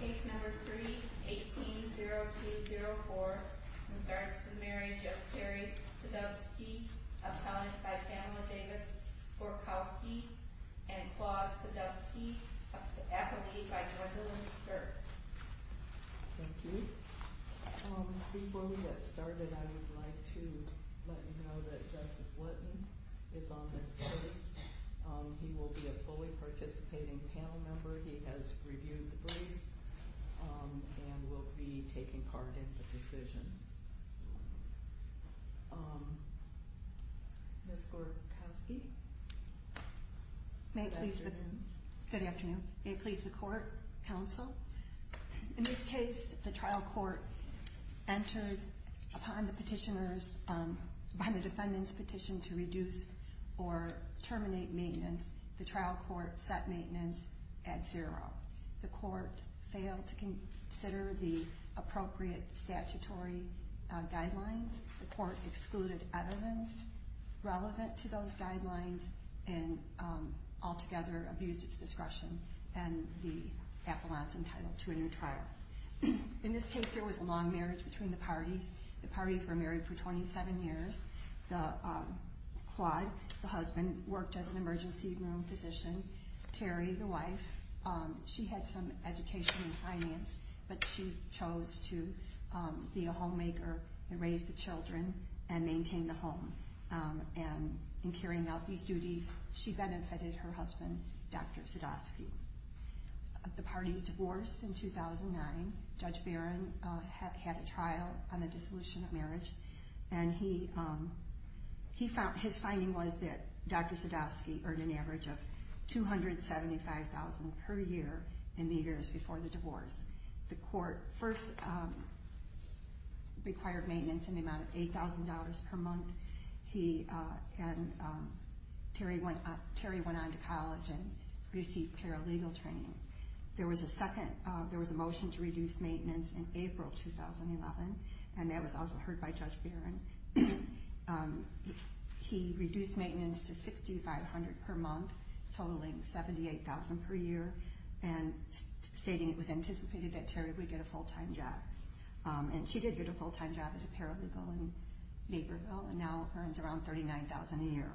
Case number 3-18-0204, in regards to the marriage of Terry Sadovsky, appellant by Pamela Davis-Gorkowski, and Claude Sadovsky, appellee by Gwendolyn Sturt. Thank you. Before we get started I would like to let you know that Justice Lutton is on this case. He will be a fully participating panel member. He has reviewed the briefs and will be taking part in the decision. Ms. Gorkowski? Good afternoon. May it please the Court, Counsel. In this case, the trial court entered upon the petitioners, upon the defendant's petition to reduce or terminate maintenance. The trial court set maintenance at zero. The court failed to consider the appropriate statutory guidelines. The court excluded evidence relevant to those guidelines and altogether abused its discretion and the appellant's entitlement to a new trial. In this case, there was a long marriage between the parties. The parties were married for 27 years. Claude, the husband, worked as an emergency room physician. Terry, the wife, she had some education in finance, but she chose to be a homemaker and raise the children and maintain the home. In carrying out these duties, she benefited her husband, Dr. Sadowski. The parties divorced in 2009. Judge Barron had a trial on the dissolution of marriage. His finding was that Dr. Sadowski earned an average of $275,000 per year in the years before the divorce. The court first required maintenance in the amount of $8,000 per month. Terry went on to college and received paralegal training. There was a motion to reduce maintenance in April 2011 and that was also heard by Judge Barron. He reduced maintenance to $6,500 per month, totaling $78,000 per year and stating it was anticipated that Terry would get a full-time job. She did get a full-time job as a paralegal in Naperville and now earns around $39,000 a year.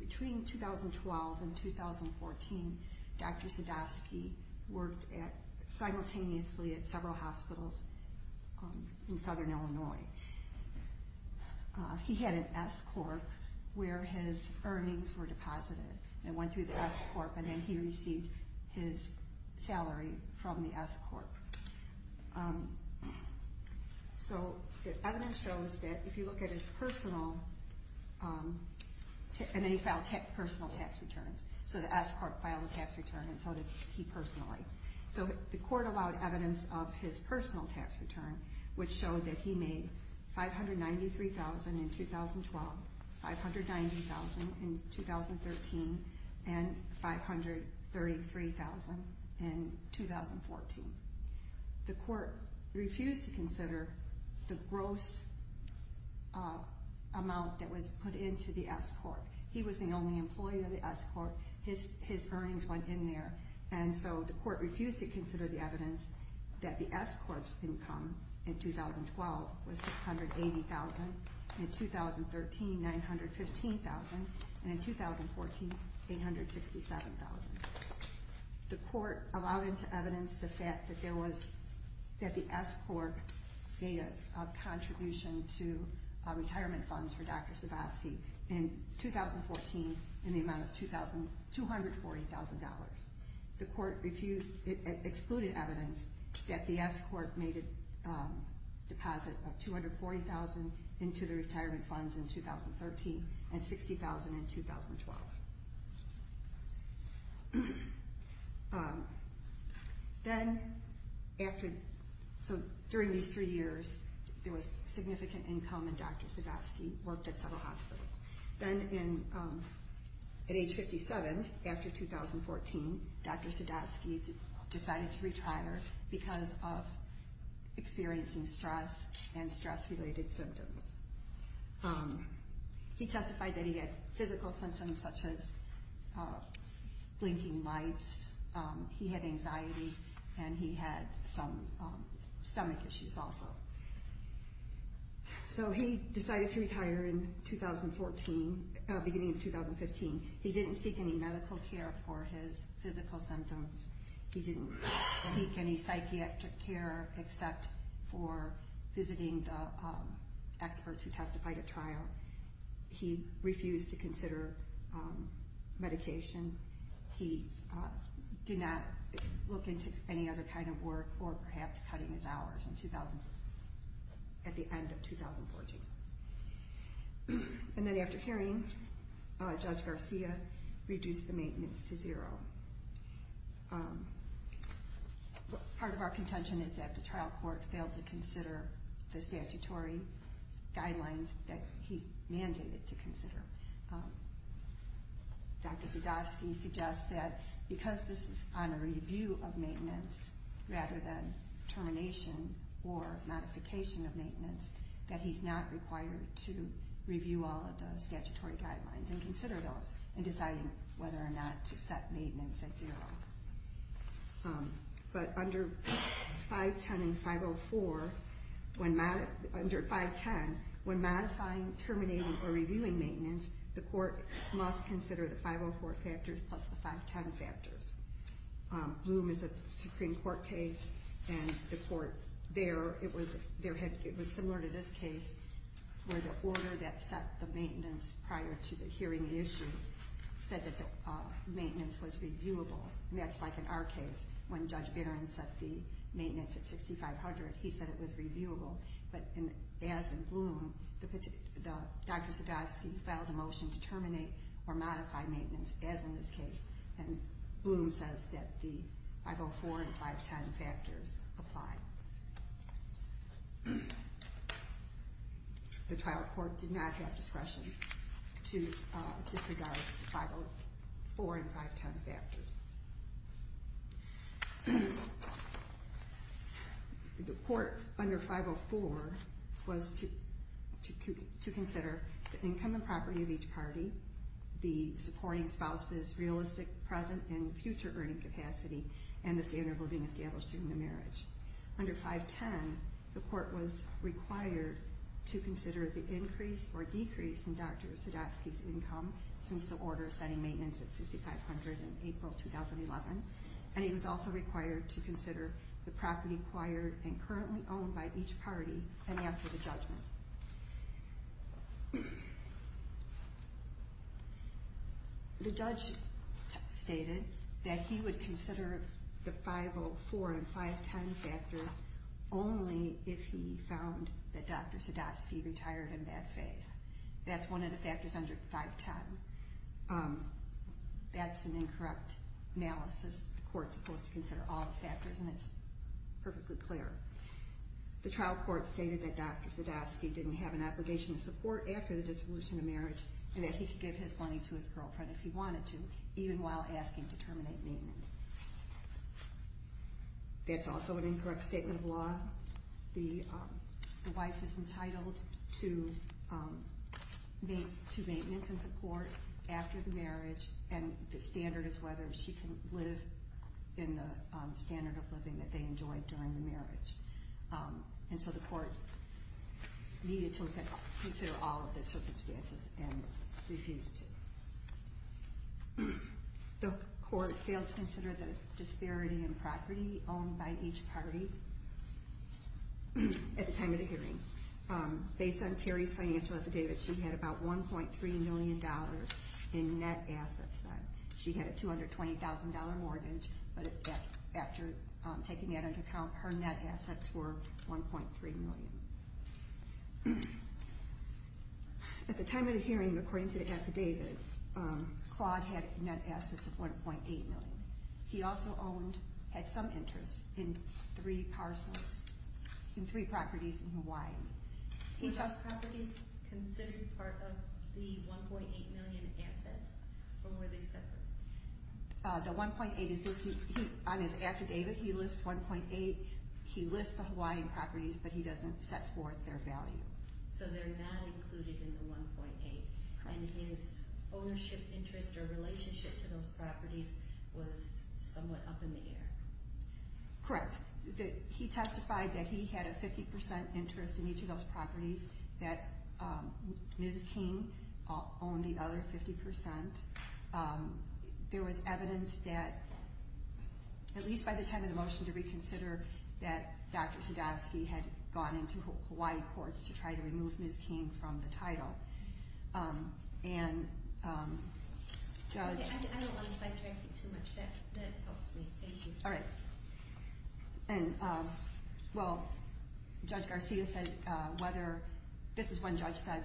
Between 2012 and 2014, Dr. Sadowski worked simultaneously at several hospitals in southern Illinois. He had an S-Corp where his earnings were deposited and went through the S-Corp and then he received his salary from the S-Corp. The evidence shows that if you look at his personal, and then he filed personal tax returns, so the S-Corp filed a tax return and so did he personally. So the court allowed evidence of his personal tax return, which showed that he made $593,000 in 2012, $590,000 in 2013, and $533,000 in 2014. The court refused to consider the gross amount that was put into the S-Corp. He was the only employee of the S-Corp, his earnings went in there, and so the court refused to consider the evidence that the S-Corp's income in 2012 was $680,000, in 2013 $915,000, and in 2014 $867,000. The court allowed into evidence the fact that the S-Corp made a contribution to retirement funds for Dr. Sadowski. In 2014 in the amount of $240,000. The court excluded evidence that the S-Corp made a deposit of $240,000 into the retirement funds in 2013 and $60,000 in 2012. Then after, so during these three years there was significant income in Dr. Sadowski, worked at several hospitals. Then at age 57, after 2014, Dr. Sadowski decided to retire because of experiencing stress and stress-related symptoms. He testified that he had physical symptoms such as blinking lights, he had anxiety, and he had some stomach issues also. So he decided to retire in 2014, beginning of 2015. He didn't seek any medical care for his physical symptoms. He didn't seek any psychiatric care except for visiting the experts who testified at trial. He refused to consider medication. He did not look into any other kind of work or perhaps cutting his hours at the end of 2014. And then after hearing, Judge Garcia reduced the maintenance to zero. Part of our contention is that the trial court failed to consider the statutory guidelines that he's mandated to consider. Dr. Sadowski suggests that because this is on a review of maintenance rather than termination or modification of maintenance that he's not required to review all of the statutory guidelines and consider those in deciding whether or not to set maintenance at zero. But under 510 and 504, under 510, when modifying, terminating, or reviewing maintenance, the court must consider the 504 factors plus the 510 factors. Bloom is a Supreme Court case, and the court there, it was similar to this case, where the order that set the maintenance prior to the hearing issue said that the maintenance was reviewable. And that's like in our case, when Judge Barron set the maintenance at 6,500, he said it was reviewable. But as in Bloom, Dr. Sadowski filed a motion to terminate or modify maintenance, as in this case. And Bloom says that the 504 and 510 factors apply. The trial court did not have discretion to disregard the 504 and 510 factors. The court under 504 was to consider the income and property of each party, the supporting spouse's realistic present and future earning capacity, and the standard of living established during the marriage. Under 510, the court was required to consider the increase or decrease in Dr. Sadowski's income since the order setting maintenance at 6,500 in April 2011. And he was also required to consider the property acquired and currently owned by each party, and after the judgment. The judge stated that he would consider the 504 and 510 factors only if he found that Dr. Sadowski retired in bad faith. That's one of the factors under 510. That's an incorrect analysis. The court's supposed to consider all the factors, and it's perfectly clear. The trial court stated that Dr. Sadowski didn't have an obligation of support after the dissolution of marriage and that he could give his money to his girlfriend if he wanted to, even while asking to terminate maintenance. That's also an incorrect statement of law. The wife is entitled to maintenance and support after the marriage, and the standard is whether she can live in the standard of living that they enjoyed during the marriage. And so the court needed to consider all of the circumstances and refused to. The court failed to consider the disparity in property owned by each party at the time of the hearing. Based on Terry's financial affidavit, she had about $1.3 million in net assets. She had a $220,000 mortgage, but after taking that into account, her net assets were $1.3 million. At the time of the hearing, according to the affidavit, Claude had net assets of $1.8 million. He also had some interest in three properties in Hawaii. Were those properties considered part of the $1.8 million assets, or were they separate? The $1.8 million, on his affidavit, he lists the Hawaii properties, but he doesn't set forth their value. So they're not included in the $1.8 million. Correct. And his ownership interest or relationship to those properties was somewhat up in the air. Correct. He testified that he had a 50% interest in each of those properties, that Ms. King owned the other 50%. There was evidence that, at least by the time of the motion to reconsider, that Dr. Sadowsky had gone into Hawaii courts to try to remove Ms. King from the title. Okay, I don't want to sidetrack you too much. That helps me. Thank you. All right. And, well, Judge Garcia said whether, this is when the judge said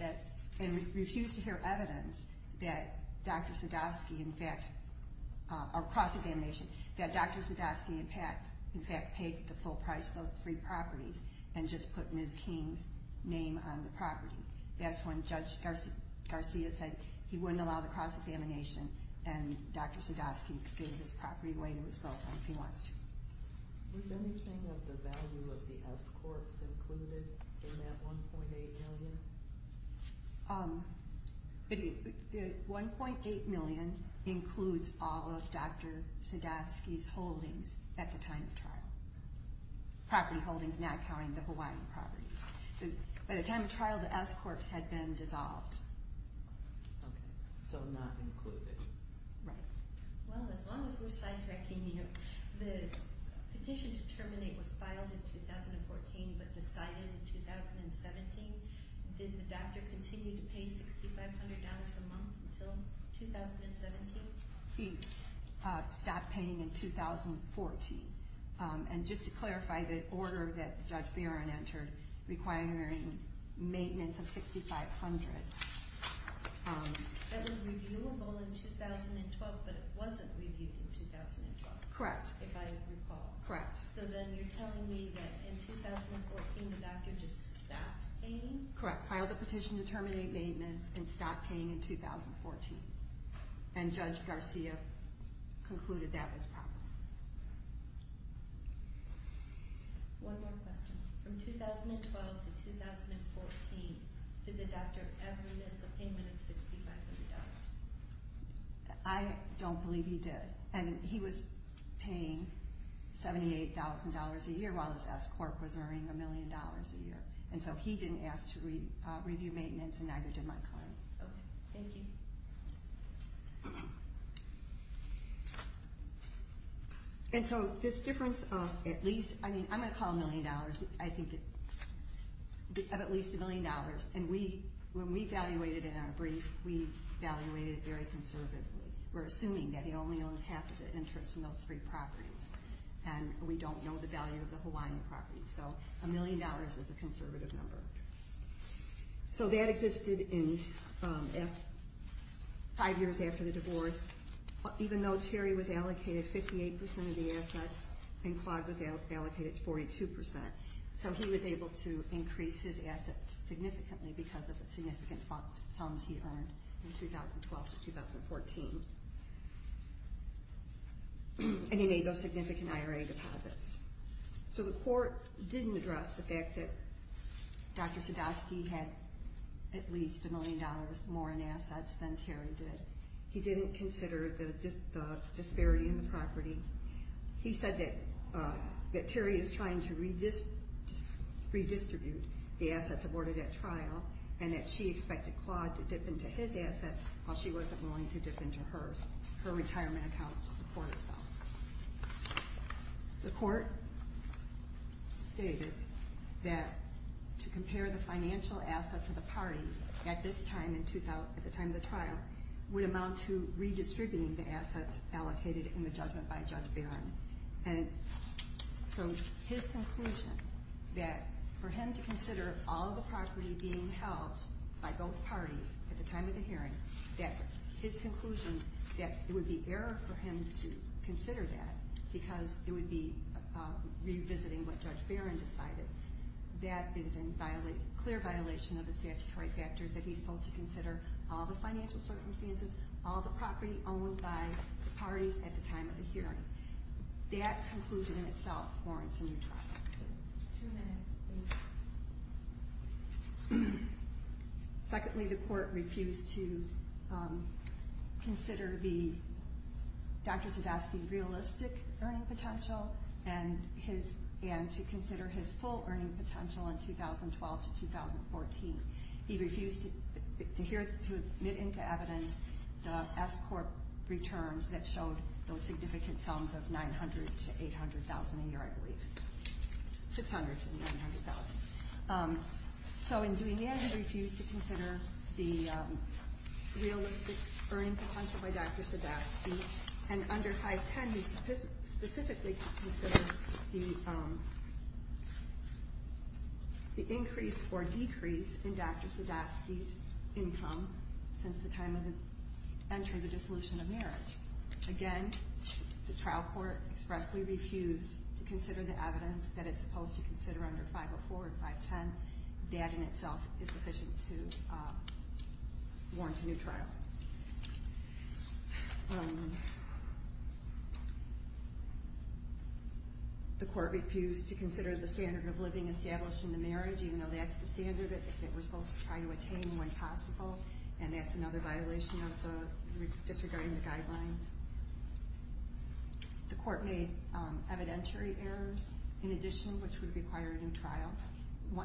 that, and refused to hear evidence that Dr. Sadowsky, in fact, or cross-examination, that Dr. Sadowsky, in fact, paid the full price of those three properties and just put Ms. King's name on the property. That's when Judge Garcia said he wouldn't allow the cross-examination and Dr. Sadowsky could give his property away to his girlfriend if he wants to. Was anything of the value of the S courts included in that $1.8 million? $1.8 million includes all of Dr. Sadowsky's holdings at the time of trial. Property holdings, not counting the Hawaiian properties. By the time of trial, the S courts had been dissolved. Okay, so not included. Right. Well, as long as we're sidetracking here, the petition to terminate was filed in 2014, but decided in 2017. Did the doctor continue to pay $6,500 a month until 2017? He stopped paying in 2014. And just to clarify, the order that Judge Barron entered requiring maintenance of $6,500. That was reviewable in 2012, but it wasn't reviewed in 2012. Correct. If I recall. Correct. So then you're telling me that in 2014 the doctor just stopped paying? Correct. Filed the petition to terminate maintenance and stopped paying in 2014. And Judge Garcia concluded that was proper. One more question. From 2012 to 2014, did the doctor ever miss a payment of $6,500? I don't believe he did. And he was paying $78,000 a year while his S court was earning $1 million a year. And so he didn't ask to review maintenance and neither did my client. Okay. Thank you. And so this difference of at least, I mean, I'm going to call it $1 million. I think of at least $1 million. And when we evaluated it in our brief, we evaluated it very conservatively. We're assuming that he only owns half of the interest in those three properties. And we don't know the value of the Hawaiian property. So $1 million is a conservative number. So that existed five years after the divorce, even though Terry was allocated 58% of the assets and Claude was allocated 42%. So he was able to increase his assets significantly because of the significant sums he earned in 2012 to 2014. And he made those significant IRA deposits. So the court didn't address the fact that Dr. Sadowski had at least $1 million more in assets than Terry did. He didn't consider the disparity in the property. He said that Terry is trying to redistribute the assets awarded at trial and that she expected Claude to dip into his assets while she wasn't willing to dip into hers, her retirement accounts to support herself. The court stated that to compare the financial assets of the parties at this time, at the time of the trial, would amount to redistributing the assets allocated in the judgment by Judge Barron. And so his conclusion that for him to consider all the property being held by both parties at the time of the hearing, that his conclusion that it would be error for him to consider that because it would be revisiting what Judge Barron decided, that is in clear violation of the statutory factors that he's supposed to consider all the financial circumstances, all the property owned by the parties at the time of the hearing. That conclusion in itself warrants a new trial. Two minutes. Secondly, the court refused to consider the Dr. Zydowski realistic earning potential and to consider his full earning potential in 2012 to 2014. He refused to admit into evidence the S-Corp returns that showed those significant sums of $900,000 to $800,000 a year, I believe. $600,000 to $900,000. So in doing that, he refused to consider the realistic earning potential by Dr. Zydowski. And under 510, he specifically considered the increase or decrease in Dr. Zydowski's income since the time of the entry of the dissolution of marriage. Again, the trial court expressly refused to consider the evidence that it's supposed to consider under 504 and 510. That in itself is sufficient to warrant a new trial. The court refused to consider the standard of living established in the marriage, even though that's the standard that we're supposed to try to attain when possible, and that's another violation of the, disregarding the guidelines. The court made evidentiary errors in addition, which would require a new trial.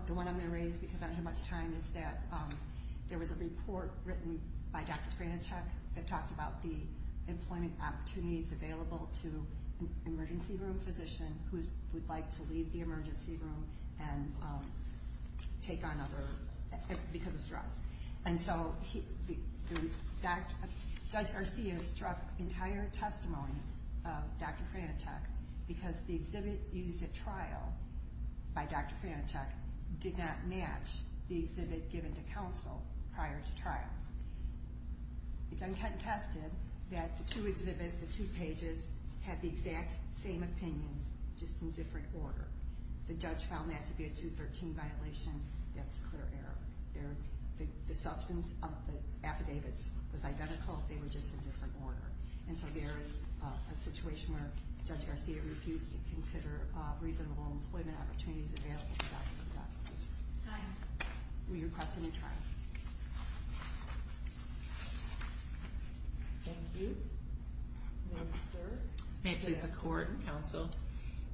The one I'm going to raise because I don't have much time is that there was a report written by Dr. Franichek that talked about the employment opportunities available to an emergency room physician who would like to leave the emergency room and take on other, because of stress. And so, Judge Garcia struck entire testimony of Dr. Franichek because the exhibit used at trial by Dr. Franichek did not match the exhibit given to counsel prior to trial. It's uncontested that the two exhibits, the two pages, had the exact same opinions, just in different order. The judge found that to be a 213 violation. That's a clear error. The substance of the affidavits was identical, they were just in different order. And so there is a situation where Judge Garcia refused to consider reasonable employment opportunities available to Dr. Sadowski. Time. We request a new trial. Thank you. Gwendolyn Sturck. May it please the court and counsel.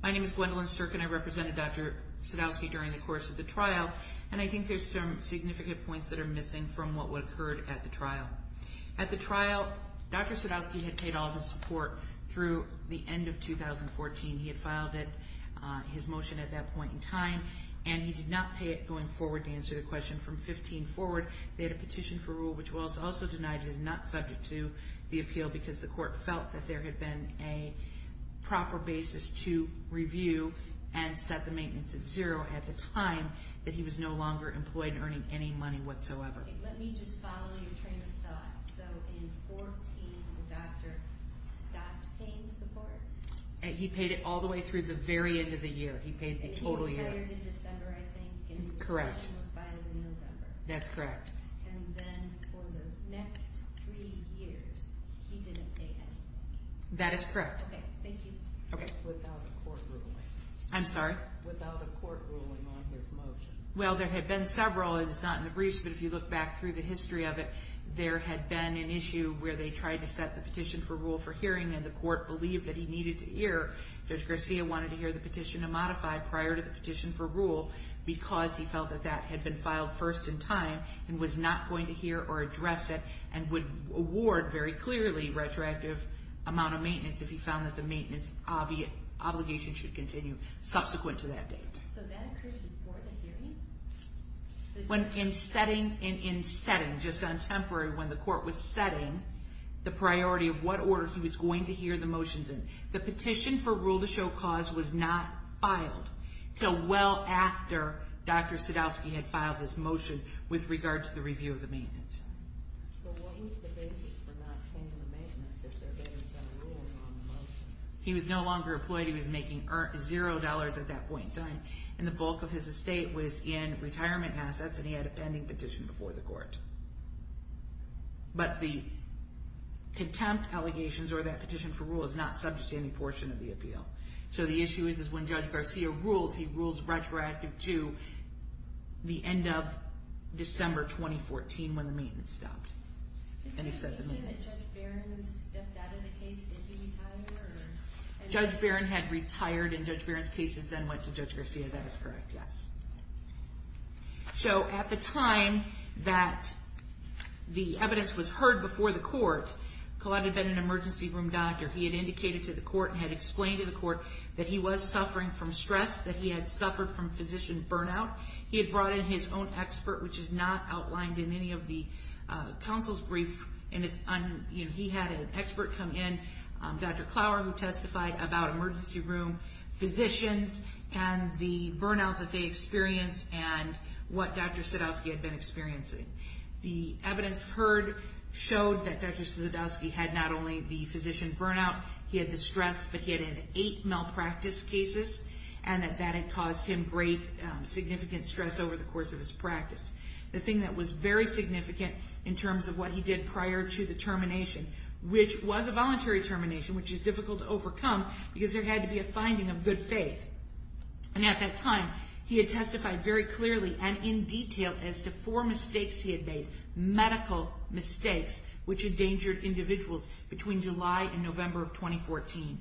My name is Gwendolyn Sturck and I represented Dr. Sadowski during the course of the trial. And I think there's some significant points that are missing from what would have occurred at the trial. At the trial, Dr. Sadowski had paid all of his support through the end of 2014. He had filed his motion at that point in time and he did not pay it going forward to answer the question. From 2015 forward, they had a petition for rule which was also denied. It is not subject to the appeal because the court felt that there had been a proper basis to review and set the maintenance at zero at the time that he was no longer employed and earning any money whatsoever. Let me just follow your train of thought. So in 2014, the doctor stopped paying support? He paid it all the way through the very end of the year. He paid the total year. And he retired in December, I think. Correct. And the petition was filed in November. That's correct. And then for the next three years, he didn't pay anything. That is correct. Okay, thank you. Okay. Without a court ruling. I'm sorry? Without a court ruling on his motion. Well, there had been several. It is not in the briefs, but if you look back through the history of it, there had been an issue where they tried to set the petition for rule for hearing and the court believed that he needed to hear. Judge Garcia wanted to hear the petition to modify prior to the petition for rule because he felt that that had been filed first in time and was not going to hear or address it and would award, very clearly, retroactive amount of maintenance if he found that the maintenance obligation should continue subsequent to that date. So that occurred before the hearing? In setting, just on temporary, when the court was setting the priority of what order he was going to hear the motions in. The petition for rule to show cause was not filed until well after Dr. Sadowski had filed his motion with regard to the review of the maintenance. So what was the basis for not paying the maintenance if there had been a rule on the motion? He was no longer employed. He was making zero dollars at that point in time. And the bulk of his estate was in retirement assets, and he had a pending petition before the court. But the contempt allegations or that petition for rule is not subject to any portion of the appeal. So the issue is when Judge Garcia rules, he rules retroactive to the end of December 2014 when the maintenance stopped. And he set the date. Is it interesting that Judge Barron stepped out of the case if he retired? Judge Barron had retired, and Judge Barron's cases then went to Judge Garcia. That is correct, yes. So at the time that the evidence was heard before the court, Collette had been an emergency room doctor. He had indicated to the court and had explained to the court that he was suffering from stress, that he had suffered from physician burnout. He had brought in his own expert, which is not outlined in any of the counsel's brief. He had an expert come in, Dr. Clower, who testified about emergency room physicians and the burnout that they experienced and what Dr. Sadowski had been experiencing. The evidence heard showed that Dr. Sadowski had not only the physician burnout, he had the stress, but he had had eight malpractice cases, and that that had caused him great significant stress over the course of his practice. The thing that was very significant in terms of what he did prior to the termination, which was a voluntary termination, which is difficult to overcome, because there had to be a finding of good faith. And at that time, he had testified very clearly and in detail as to four mistakes he had made, medical mistakes, which endangered individuals between July and November of 2014.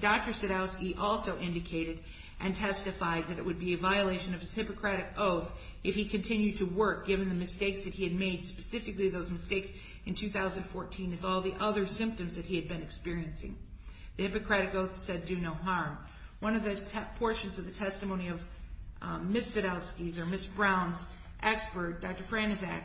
Dr. Sadowski also indicated and testified that it would be a violation of his Hippocratic Oath if he continued to work, given the mistakes that he had made, specifically those mistakes in 2014 and all the other symptoms that he had been experiencing. The Hippocratic Oath said do no harm. One of the portions of the testimony of Ms. Sadowski's or Ms. Brown's expert, Dr. Franczak,